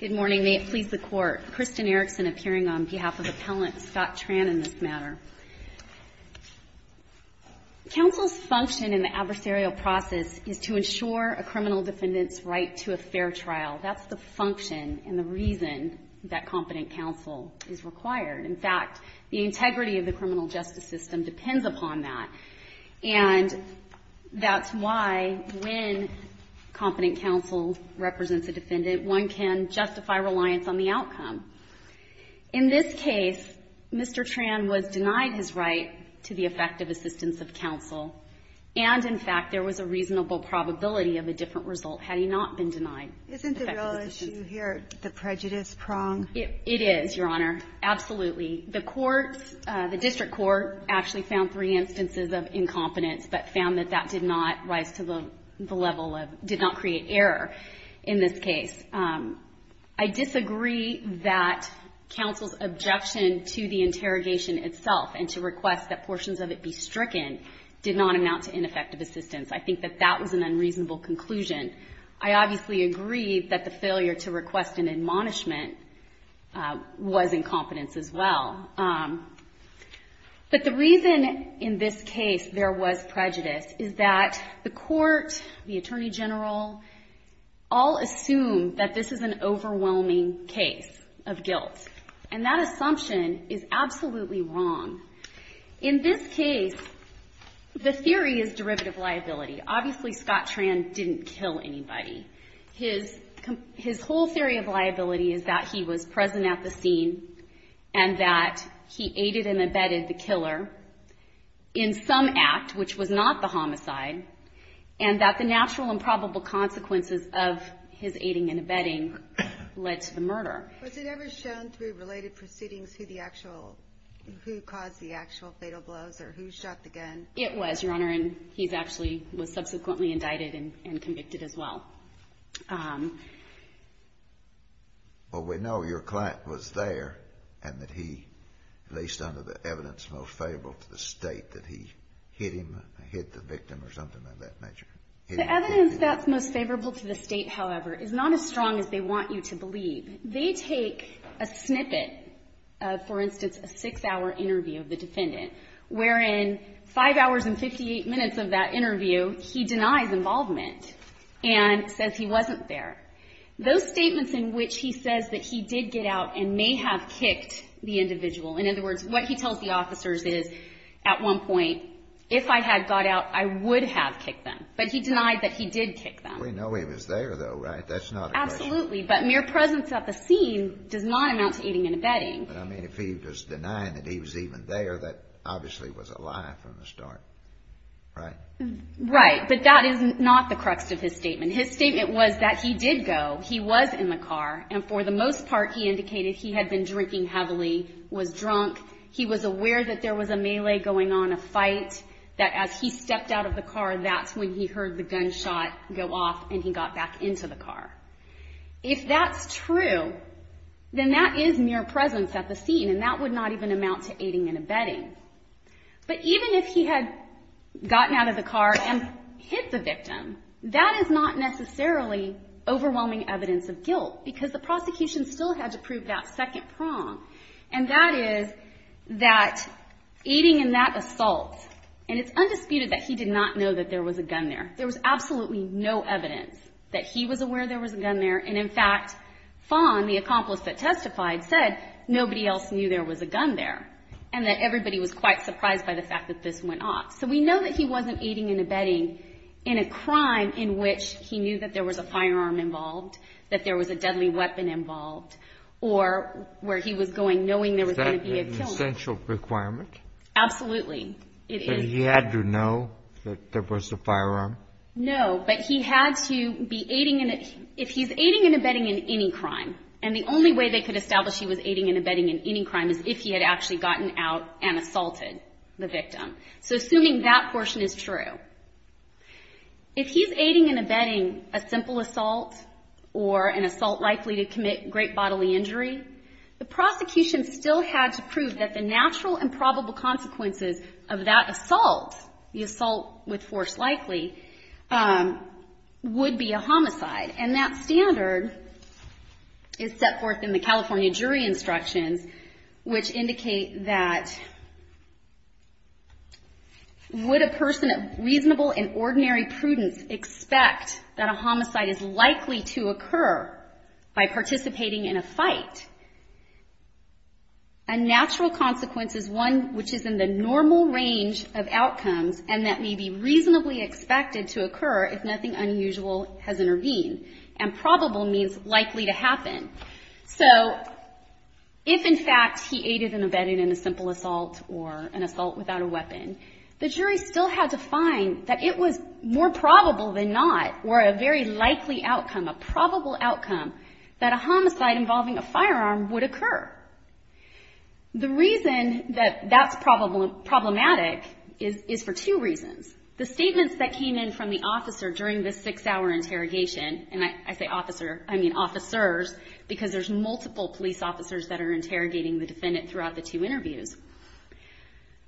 Good morning. May it please the Court, Kristin Erickson appearing on behalf of Appellant Scott Tran in this matter. Counsel's function in the adversarial process is to ensure a criminal defendant's right to a fair trial. That's the function and the reason that competent counsel is required. In fact, the integrity of the criminal justice system depends upon that. And that's why when competent counsel represents a defendant, one can justify reliance on the outcome. In this case, Mr. Tran was denied his right to the effective assistance of counsel, and in fact, there was a reasonable probability of a different result had he not been denied effective assistance. MS. LAMARQUE Isn't the real issue here the prejudice prong? MS. ERICKSON It is, Your Honor, absolutely. The court, the district court, actually found three instances of incompetence, but found that that did not rise to the level of, did not create error in this case. I disagree that counsel's objection to the interrogation itself and to request that portions of it be stricken did not amount to ineffective assistance. I think that that was an unreasonable conclusion. I obviously agree that the failure to request an admonishment was incompetence as well. But the reason in this case there was prejudice is that the court, the Attorney General, all assume that this is an overwhelming case of guilt. And that assumption is absolutely wrong. In this case, the theory is derivative liability. Obviously, Scott Tran didn't kill anybody. His whole theory of liability is that he was present at the scene and that he aided and abetted the killer in some act, which was not the homicide, and that the natural and probable consequences of his aiding and abetting led to the murder. Was it ever shown through related proceedings who the actual, who caused the actual fatal blows or who shot the gun? It was, Your Honor. And he's actually, was subsequently indicted and convicted as well. Well, we know your client was there and that he, at least under the evidence most favorable to the State, that he hit him, hit the victim or something of that nature. The evidence that's most favorable to the State, however, is not as strong as they are. So if we take a snippet of, for instance, a 6-hour interview of the defendant, wherein 5 hours and 58 minutes of that interview he denies involvement and says he wasn't there, those statements in which he says that he did get out and may have kicked the individual, in other words, what he tells the officers is, at one point, if I had got out, I would have kicked them. But he denied that he did kick them. We know he was there, though, right? That's not a question. Absolutely. But mere presence at the scene does not amount to aiding and abetting. But, I mean, if he was denying that he was even there, that obviously was a lie from the start, right? Right. But that is not the crux of his statement. His statement was that he did go. He was in the car. And for the most part, he indicated he had been drinking heavily, was drunk. He was aware that there was a melee going on, a fight, that as he stepped out of the car, that's when he heard the gunshot go off and he got back into the car. If that's true, then that is mere presence at the scene, and that would not even amount to aiding and abetting. But even if he had gotten out of the car and hit the victim, that is not necessarily overwhelming evidence of guilt, because the prosecution still had to prove that second prong, and that is that aiding in that assault, and it's undisputed that he did not know that there was a gun there. There was absolutely no evidence that he was aware there was a gun there, and in fact, Fong, the accomplice that testified, said nobody else knew there was a gun there, and that everybody was quite surprised by the fact that this went off. So we know that he wasn't aiding and abetting in a crime in which he knew that there was a firearm involved, that there was a deadly weapon involved, or where he was going knowing there was going to be a killing. Is that an essential requirement? Absolutely. It is. He had to know that there was a firearm? No, but he had to be aiding and abetting in any crime, and the only way they could establish he was aiding and abetting in any crime is if he had actually gotten out and assaulted the victim. So assuming that portion is true, if he's aiding and abetting a simple assault or an assault likely to commit great bodily injury, the prosecution still had to assault with force likely, would be a homicide. And that standard is set forth in the California jury instructions, which indicate that would a person of reasonable and ordinary prudence expect that a homicide is likely to occur by participating in a fight, a natural consequence is one which is in the normal range of outcomes and that may be reasonably expected to occur if nothing unusual has intervened. And probable means likely to happen. So if, in fact, he aided and abetted in a simple assault or an assault without a weapon, the jury still had to find that it was more probable than not, or a very likely outcome, a probable outcome, that a homicide involving a firearm would occur. The reason that that's problematic is for two reasons. The statements that came in from the officer during the six-hour interrogation, and I say officer, I mean officers, because there's multiple police officers that are interrogating the defendant throughout the two interviews.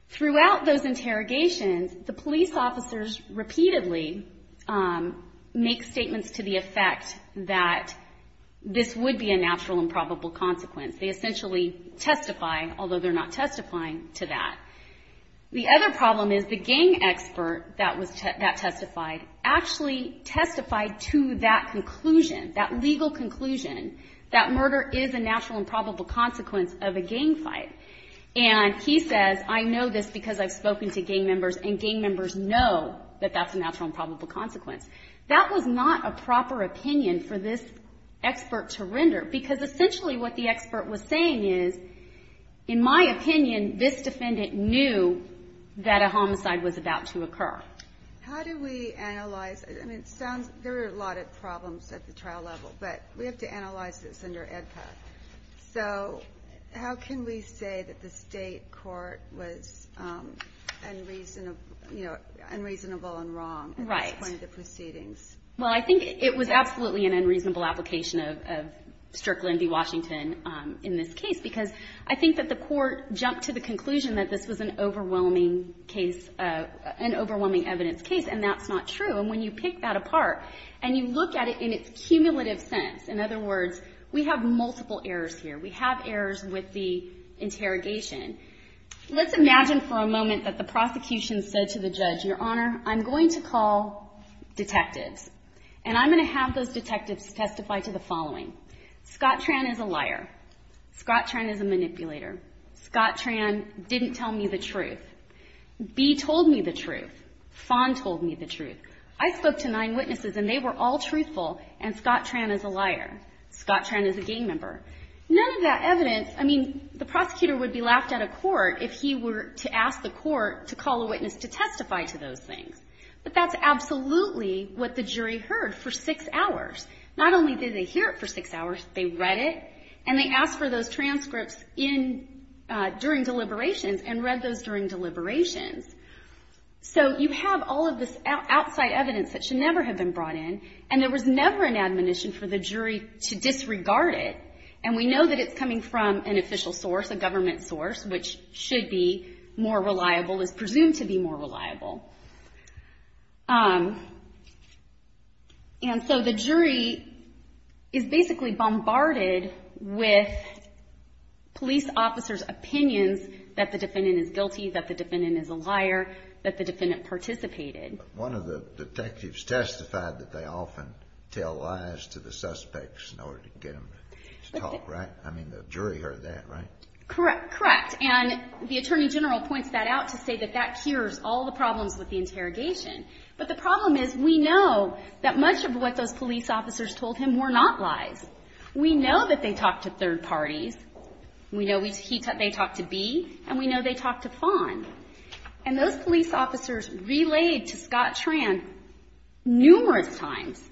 Throughout those interrogations, the police officers repeatedly make statements to the effect that this would be a natural and probable consequence. They essentially testify, although they're not testifying to that. The other problem is the gang expert that testified actually testified to that conclusion, that legal conclusion, that murder is a natural and probable consequence of a gang fight. And he says, I know this because I've spoken to gang members and gang members know that that's a natural and probable consequence. That was not a proper opinion for this expert to render, because essentially what the expert was saying is, in my opinion, this defendant knew that a homicide was about to occur. How do we analyze, I mean it sounds, there are a lot of problems at the trial level, but we have to analyze this under EDPA. So how can we say that the state court was unreasonable and wrong at this point in the proceedings? Well, I think it was absolutely an unreasonable application of Strictly v. Washington in this case, because I think that the court jumped to the conclusion that this was an overwhelming case, an overwhelming evidence case, and that's not true. And when you pick that apart and you look at it in its cumulative sense, in other words, we have multiple errors here. We have errors with the interrogation. Let's imagine for a moment that the prosecution said to the judge, Your Honor, I'm going to call detectives, and I'm going to have those detectives testify to the following. Scott Tran is a liar. Scott Tran is a manipulator. Scott Tran didn't tell me the truth. Bee told me the truth. Fawn told me the truth. I spoke to nine witnesses, and they were all truthful, and Scott Tran is a liar. Scott Tran is a gang member. None of that evidence, I mean, the prosecutor would be laughed out of court if he were to ask the court to call a witness to testify to those things. But that's absolutely what the jury heard for six hours. Not only did they hear it for six hours, they read it, and they asked for those transcripts during deliberations and read those during deliberations. So you have all of this outside evidence that should never have been brought in, and there was never an admonition for the jury to disregard it. And we know that it's coming from an official source, a government source, which should be more reliable, is presumed to be more reliable. And so the jury is basically bombarded with police officers' opinions that the defendant is guilty, that the defendant is a liar, that the defendant participated. One of the detectives testified that they often tell lies to the suspects in order to get them to talk, right? I mean, the jury heard that, right? Correct. Correct. And the Attorney General points that out to say that that cures all the problems with the interrogation. But the problem is we know that much of what those police officers told him were not lies. We know that they talked to third parties. We know they talked to Bea, and we know they talked to Fawn. And those police officers relayed to Scott Tran numerous times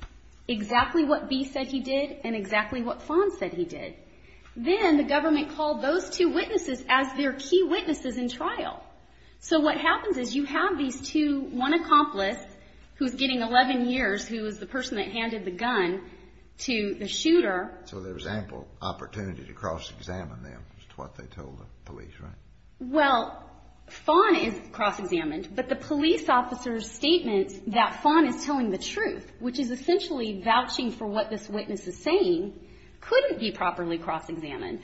exactly what Bea said he did and exactly what Fawn said he did. Then the government called those two witnesses as their key witnesses in trial. So what happens is you have these two, one accomplice who's getting 11 years, who is the person that handed the gun to the shooter. So there's ample opportunity to cross-examine them as to what they told the police, right? Well, Fawn is cross-examined, but the police officer's statement that Fawn is telling the truth, which is essentially vouching for what this witness is saying, couldn't be properly cross-examined.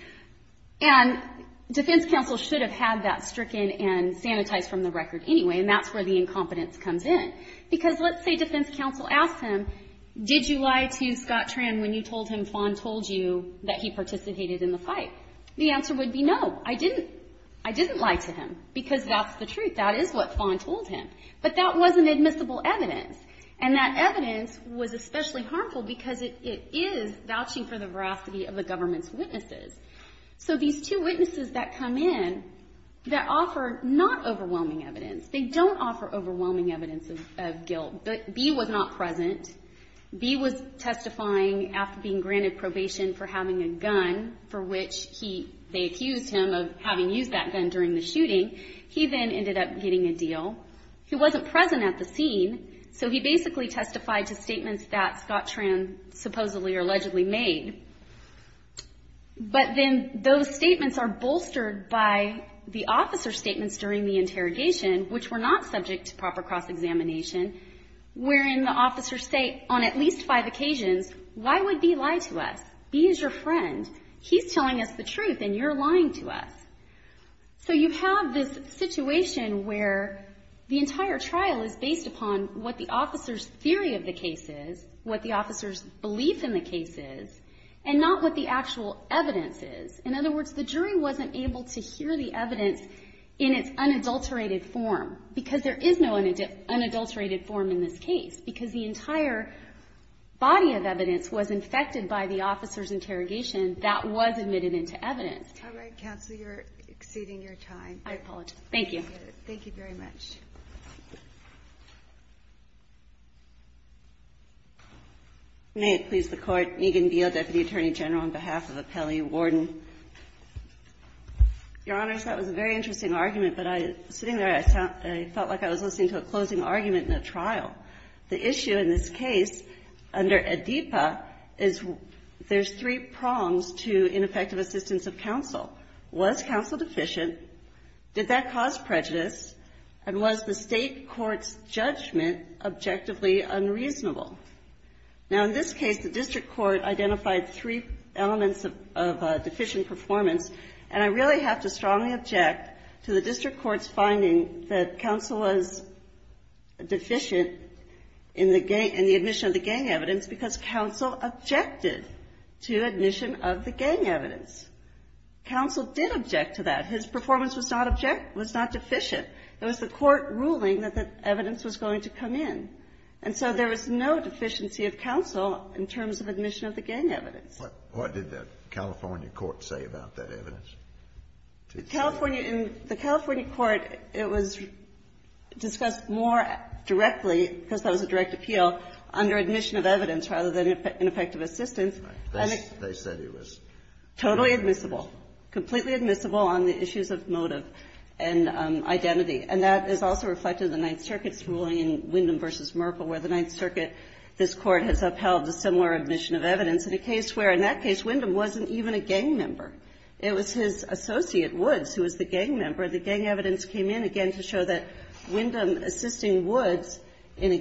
And defense counsel should have had that stricken and sanitized from the record anyway, and that's where the incompetence comes in. Because let's say defense counsel asked him, did you lie to Scott Tran when you told him Fawn told you that he participated in the fight? The answer would be no, I didn't. I didn't lie to him because that's the truth. That is what Fawn told him. But that wasn't admissible evidence. And that evidence was especially harmful because it is vouching for the veracity of the government's witnesses. So these two witnesses that come in that offer not overwhelming evidence, they don't offer overwhelming evidence of guilt, but B was not present. B was testifying after being granted probation for having a gun for which they accused him of having used that gun during the shooting. He then ended up getting a deal. He wasn't present at the scene, so he basically testified to statements that Scott Tran supposedly or allegedly made. But then those statements are bolstered by the officer's statements during the interrogation, which were not subject to proper cross-examination, wherein the officers say on at least five occasions, why would B lie to us? B is your friend. He's telling us the truth and you're lying to us. So you have this situation where the entire trial is based upon what the officer's theory of the case is, what the officer's belief in the case is, and not what the actual evidence is. In other words, the jury wasn't able to hear the evidence in its unadulterated form because there is no unadulterated form in this case because the entire body of evidence was infected by the officer's interrogation that was admitted into evidence. All right. Counsel, you're exceeding your time. I apologize. Thank you. Thank you very much. May it please the Court. Megan Beal, Deputy Attorney General, on behalf of Appellee Warden. Your Honors, that was a very interesting argument, but sitting there, I felt like I was listening to a closing argument in a trial. The issue in this case under ADIPA is there's three prongs to ineffective assistance of counsel. Was counsel deficient? Did that cause prejudice? And was the state court's judgment objectively unreasonable? Now, in this case, the district court identified three elements of deficient performance, and I really have to strongly object to the district court's finding that counsel was deficient in the admission of the gang evidence because counsel objected to admission of the gang evidence. Counsel did object to that. His performance was not deficient. It was the court ruling that the evidence was going to come in. And so there was no deficiency of counsel in terms of admission of the gang evidence. What did the California court say about that evidence? The California court, it was discussed more directly, because that was a direct appeal under admission of evidence rather than ineffective assistance. Totally admissible. Completely admissible on the issues of motive and identity. And that is also reflected in the Ninth Circuit's ruling in Wyndham v. Merkle, where the Ninth Circuit, this Court has upheld a similar admission of evidence in a case where, in that case, Wyndham wasn't even a gang member. It was his associate, Woods, who was the gang member. The gang evidence came in, again, to show that Wyndham assisting Woods in a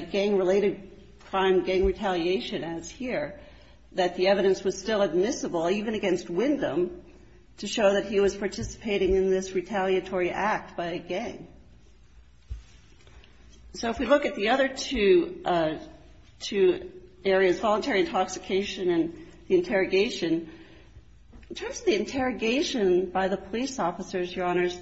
gang-related crime, gang retaliation, as here, that the evidence was still admissible, even against Wyndham, to show that he was participating in this retaliatory act by a gang. So if we look at the other two areas, voluntary intoxication and the interrogation, in terms of the interrogation by the police officers, Your Honors,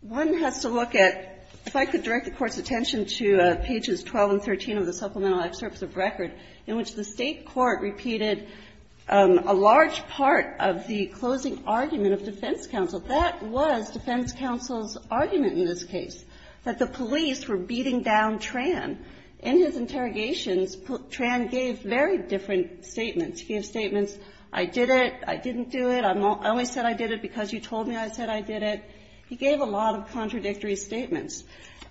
one has to look at, if I could direct the Court's attention to pages 12 and 13 of the supplemental excerpts of record, in which the State court repeated a large part of the closing argument of defense counsel. That was defense counsel's argument in this case, that the police were beating down Tran. In his interrogations, Tran gave very different statements. He gave statements, I did it. I didn't do it. I only said I did it because you told me I said I did it. He gave a lot of contradictory statements.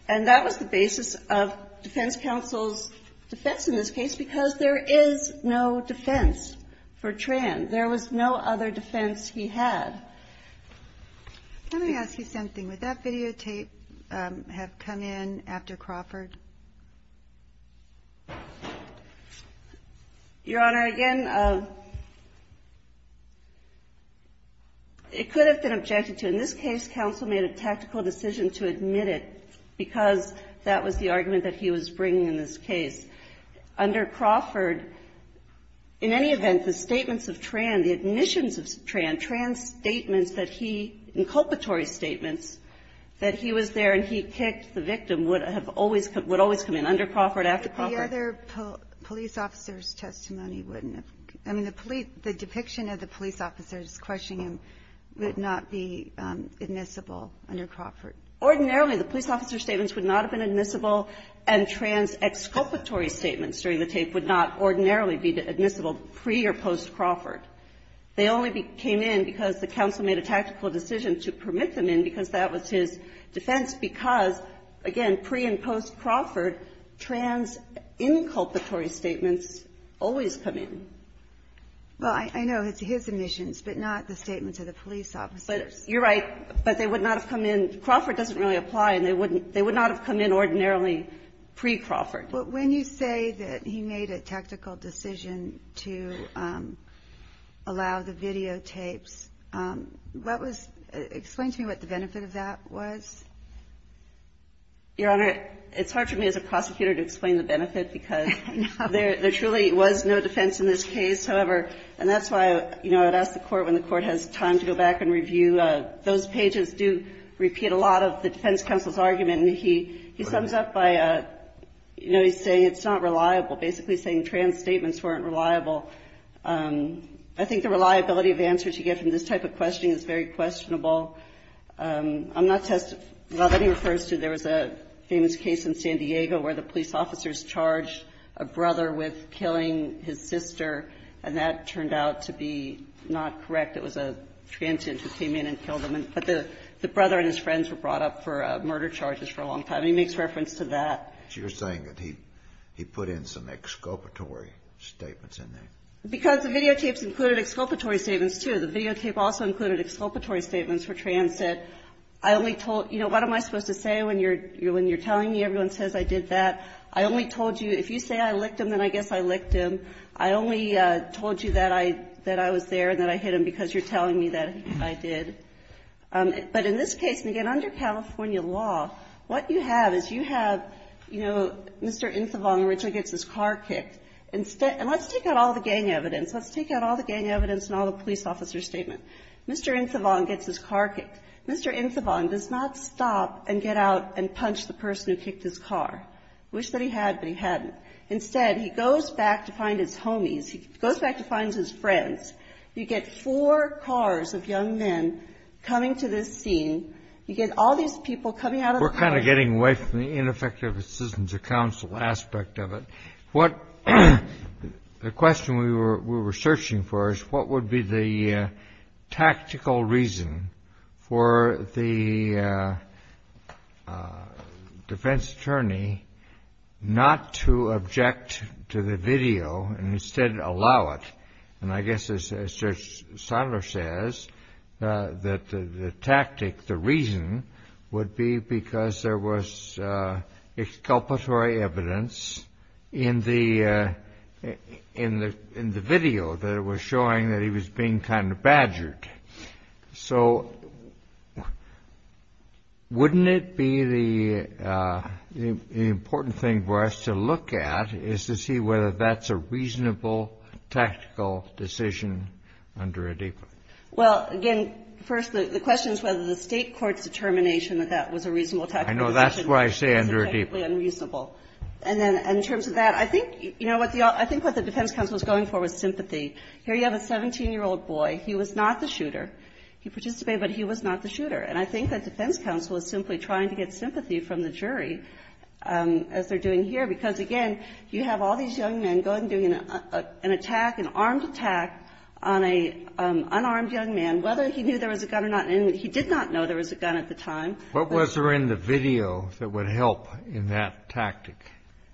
And that was the basis of defense counsel's defense in this case, because there is no defense for Tran. There was no other defense he had. Let me ask you something. Would that videotape have come in after Crawford? Your Honor, again, it could have been objected to. In this case, counsel made a tactical decision to admit it, because that was the argument that he was bringing in this case. Under Crawford, in any event, the statements of Tran, the admissions of Tran, Tran's statements that he, inculpatory statements, that he was there and he kicked the tape, would always come in under Crawford, after Crawford. But the other police officer's testimony wouldn't have come in. I mean, the depiction of the police officers questioning him would not be admissible under Crawford. Ordinarily, the police officer statements would not have been admissible, and Tran's exculpatory statements during the tape would not ordinarily be admissible pre- or post-Crawford. They only came in because the counsel made a tactical decision to permit them in, because that was his defense, because, again, pre- and post-Crawford, Tran's inculpatory statements always come in. Well, I know. It's his admissions, but not the statements of the police officers. But you're right. But they would not have come in. Crawford doesn't really apply, and they would not have come in ordinarily pre-Crawford. But when you say that he made a tactical decision to allow the videotapes, what was the benefit of that? Your Honor, it's hard for me as a prosecutor to explain the benefit, because there truly was no defense in this case. However, and that's why, you know, I'd ask the Court when the Court has time to go back and review. Those pages do repeat a lot of the defense counsel's argument, and he sums up by, you know, he's saying it's not reliable, basically saying Tran's statements weren't reliable. I think the reliability of answers you get from this type of questioning is very questionable. I'm not testifying. Well, then he refers to there was a famous case in San Diego where the police officers charged a brother with killing his sister, and that turned out to be not correct. It was a transient who came in and killed him. But the brother and his friends were brought up for murder charges for a long time. He makes reference to that. So you're saying that he put in some exculpatory statements in there? Because the videotapes included exculpatory statements, too. The videotape also included exculpatory statements for Tran said, I only told you know, what am I supposed to say when you're telling me everyone says I did that? I only told you if you say I licked him, then I guess I licked him. I only told you that I was there and that I hit him because you're telling me that I did. But in this case, and again, under California law, what you have is you have, you know, Mr. Insovong originally gets his car kicked. And let's take out all the gang evidence. Let's take out all the gang evidence and all the police officer statement. Mr. Insovong gets his car kicked. Mr. Insovong does not stop and get out and punch the person who kicked his car. Wish that he had, but he hadn't. Instead, he goes back to find his homies. He goes back to find his friends. You get four cars of young men coming to this scene. You get all these people coming out of the car. We're kind of getting away from the ineffective assistance of counsel aspect of it. What, the question we were, we were searching for is what would be the tactical reason for the defense attorney not to object to the video and instead allow it? And I guess as Judge Seiler says, that the tactic, the reason would be because there was exculpatory evidence in the video that it was showing that he was being kind of badgered. So wouldn't it be the important thing for us to look at is to see whether that's a reasonable, tactical decision under ADEPA? Well, again, first the question is whether the state court's determination that that was a reasonable tactical decision. I know. That's what I say under ADEPA. It's technically unreasonable. And then in terms of that, I think, you know, I think what the defense counsel was going for was sympathy. Here you have a 17-year-old boy. He was not the shooter. He participated, but he was not the shooter. And I think that defense counsel is simply trying to get sympathy from the jury, as they're doing here. Because, again, you have all these young men going and doing an attack, an armed attack on an unarmed young man, whether he knew there was a gun or not. And he did not know there was a gun at the time. What was there in the video that would help in that tactic?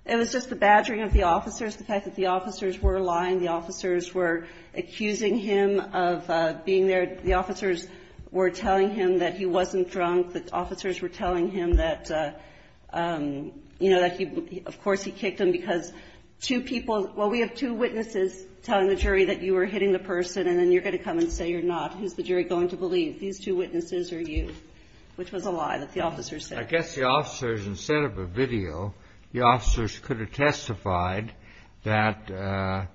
It was just the badgering of the officers, the fact that the officers were lying, the officers were accusing him of being there, the officers were telling him that he wasn't drunk, the officers were telling him that, you know, that he of course he kicked him because two people – well, we have two witnesses telling the jury that you were hitting the person, and then you're going to come and say you're not. Who's the jury going to believe? These two witnesses or you? Which was a lie that the officers said. I guess the officers, instead of a video, the officers could have testified that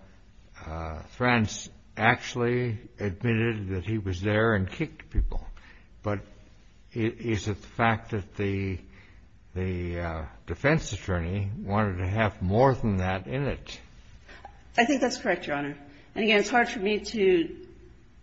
France actually admitted that he was there and kicked people. But is it the fact that the defense attorney wanted to have more than that in it? I think that's correct, Your Honor. And, again, it's hard for me to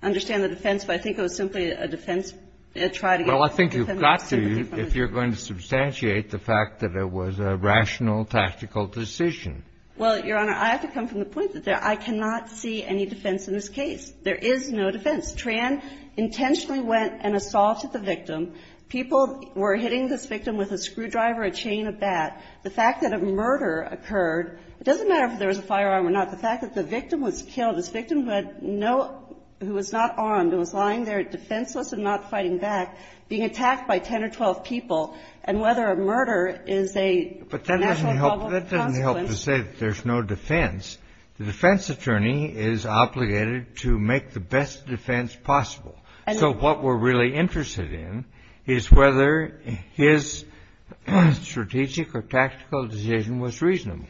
understand the defense, but I think it was simply a defense to try to get sympathy from the jury. Well, I think you've got to if you're going to substantiate the fact that it was a rational, tactical decision. Well, Your Honor, I have to come from the point that I cannot see any defense in this case. There is no defense. Tran intentionally went and assaulted the victim. People were hitting this victim with a screwdriver, a chain, a bat. The fact that a murder occurred, it doesn't matter if there was a firearm or not. The fact that the victim was killed, this victim who had no – who was not armed and was lying there defenseless and not fighting back, being attacked by ten or twelve people, and whether a murder is a natural consequence. But that doesn't help to say that there's no defense. The defense attorney is obligated to make the best defense possible. So what we're really interested in is whether his strategic or tactical decision was reasonable.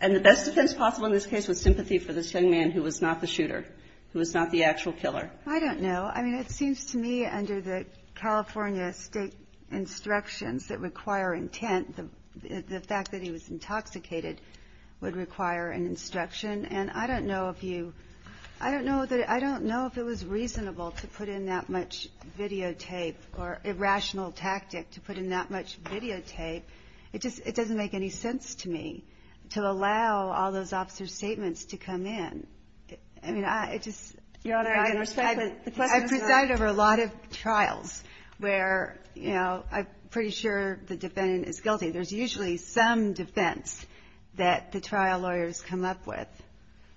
And the best defense possible in this case was sympathy for this young man who was not the shooter, who was not the actual killer. I don't know. I mean, it seems to me under the California state instructions that require intent, the fact that he was intoxicated would require an instruction. And I don't know if you – I don't know that – I don't know if it was reasonable to put in that much videotape or a rational tactic to put in that much videotape. It just – it doesn't make any sense to me to allow all those officer statements to come in. I mean, it just – Your Honor, I can respect the question. I presided over a lot of trials where, you know, I'm pretty sure the defendant is guilty. There's usually some defense that the trial lawyers come up with.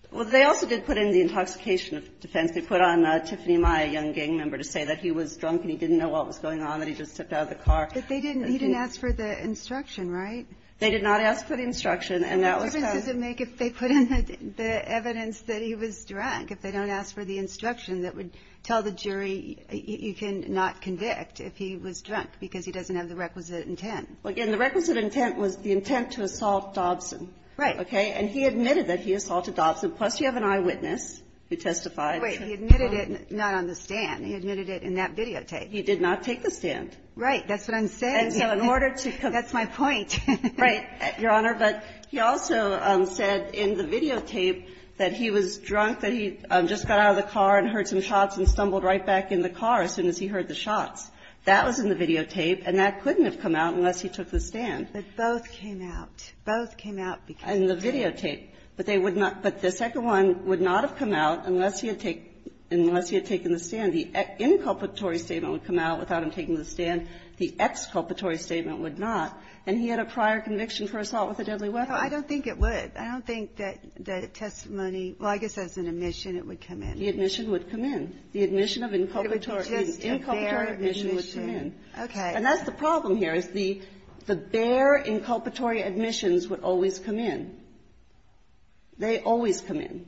Well, they also did put in the intoxication defense. They put on Tiffany Maia, a young gang member, to say that he was drunk and he didn't know what was going on, that he just stepped out of the car. But they didn't – he didn't ask for the instruction, right? They did not ask for the instruction, and that was how – Well, the difference does it make if they put in the evidence that he was drunk? If they don't ask for the instruction, that would tell the jury you can not convict if he was drunk because he doesn't have the requisite intent. Well, again, the requisite intent was the intent to assault Dobson. Right. Okay? And he admitted that he assaulted Dobson. Plus, you have an eyewitness who testified. Wait. He admitted it not on the stand. He admitted it in that videotape. He did not take the stand. Right. That's what I'm saying. And so in order to – That's my point. Right, Your Honor. But he also said in the videotape that he was drunk, that he just got out of the car and heard some shots and stumbled right back in the car as soon as he heard the shots. That was in the videotape, and that couldn't have come out unless he took the stand. But both came out. Both came out because of the tape. In the videotape. But they would not – but the second one would not have come out unless he had taken the stand. The inculpatory statement would come out without him taking the stand. The exculpatory statement would not. And he had a prior conviction for assault with a deadly weapon. No, I don't think it would. I don't think that the testimony – well, I guess as an admission it would come in. The admission would come in. The admission of inculpatory – inculpatory admission would come in. Okay. And that's the problem here, is the bare inculpatory admissions would always come in. They always come in.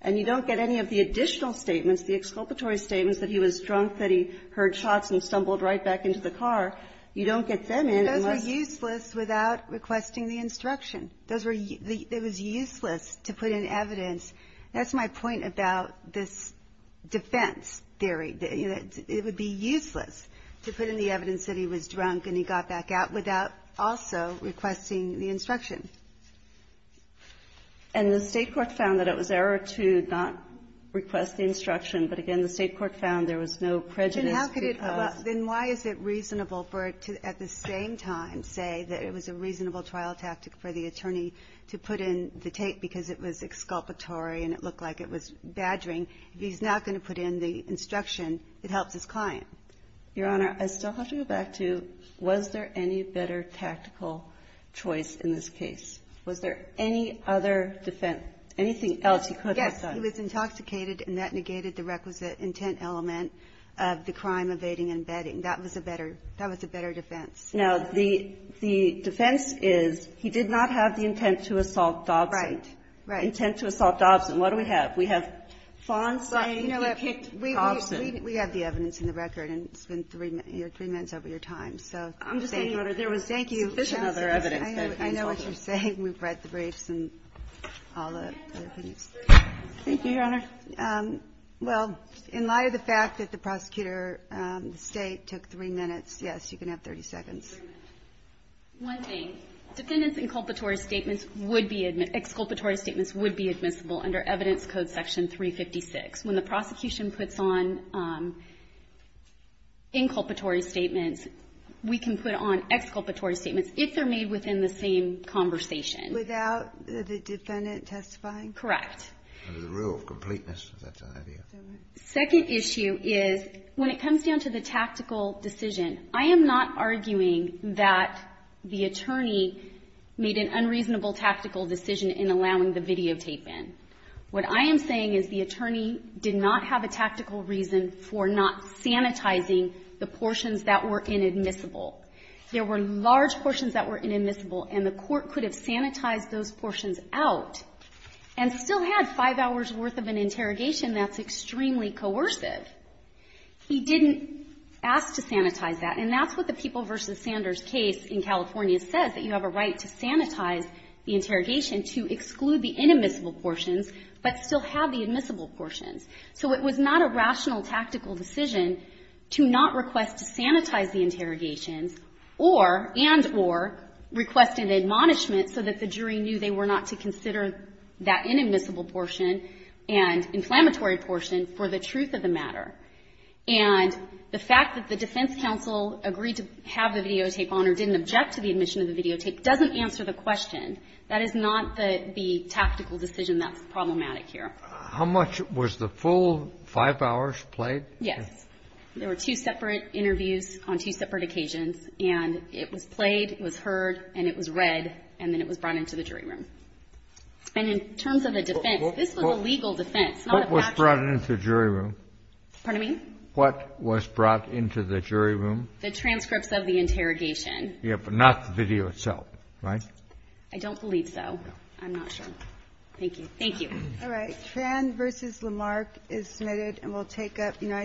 And you don't get any of the additional statements, the exculpatory statements that he was drunk, that he heard shots and stumbled right back into the car. You don't get them unless – But those were useless without requesting the instruction. Those were – it was useless to put in evidence. That's my point about this defense theory. It would be useless to put in the evidence that he was drunk and he got back out without also requesting the instruction. And the State court found that it was error to not request the instruction. But again, the State court found there was no prejudice. Then why is it reasonable for it to at the same time say that it was a reasonable trial tactic for the attorney to put in the tape because it was exculpatory and it looked like it was badgering? If he's not going to put in the instruction, it helps his client. Your Honor, I still have to go back to was there any better tactical choice in this case? Was there any other defense – anything else he could have done? Yes. He was intoxicated and that negated the requisite intent element of the crime evading and bedding. That was a better – that was a better defense. Now, the defense is he did not have the intent to assault Dobson. Right, right. Intent to assault Dobson. What do we have? We have Fawn saying he picked Dobson. We have the evidence in the record and it's been three minutes over your time. So thank you. I'm just saying, Your Honor, there was sufficient other evidence. I know what you're saying. We've read the briefs and all the other things. Thank you, Your Honor. Well, in light of the fact that the prosecutor, the State, took three minutes, yes, you can have 30 seconds. One thing. Defendants' inculpatory statements would be – exculpatory statements would be admissible under Evidence Code Section 356. When the prosecution puts on inculpatory statements, we can put on exculpatory statements if they're made within the same conversation. Without the defendant testifying? Correct. Under the rule of completeness, that's an idea. Second issue is when it comes down to the tactical decision, I am not arguing that the attorney made an unreasonable tactical decision in allowing the videotape in. What I am saying is the attorney did not have a tactical reason for not sanitizing the portions that were inadmissible. There were large portions that were inadmissible, and the court could have sanitized those portions out and still had five hours' worth of an interrogation. That's extremely coercive. He didn't ask to sanitize that. And that's what the People v. Sanders case in California says, that you have a right to sanitize the interrogation to exclude the inadmissible portions but still have the admissible portions. So it was not a rational tactical decision to not request to sanitize the interrogations or, and or, request an admonishment so that the jury knew they were not to consider that inadmissible portion and inflammatory portion for the truth of the matter. And the fact that the defense counsel agreed to have the videotape on or didn't object to the admission of the videotape doesn't answer the question. That is not the tactical decision that's problematic here. How much was the full five hours played? Yes. There were two separate interviews on two separate occasions, and it was played, it was heard, and it was read, and then it was brought into the jury room. And in terms of the defense, this was a legal defense, not a factual. What was brought into the jury room? Pardon me? What was brought into the jury room? The transcripts of the interrogation. Yes, but not the video itself, right? I don't believe so. I'm not sure. Thank you. All right. Tran v. Lamarck is submitted, and we'll take up United States.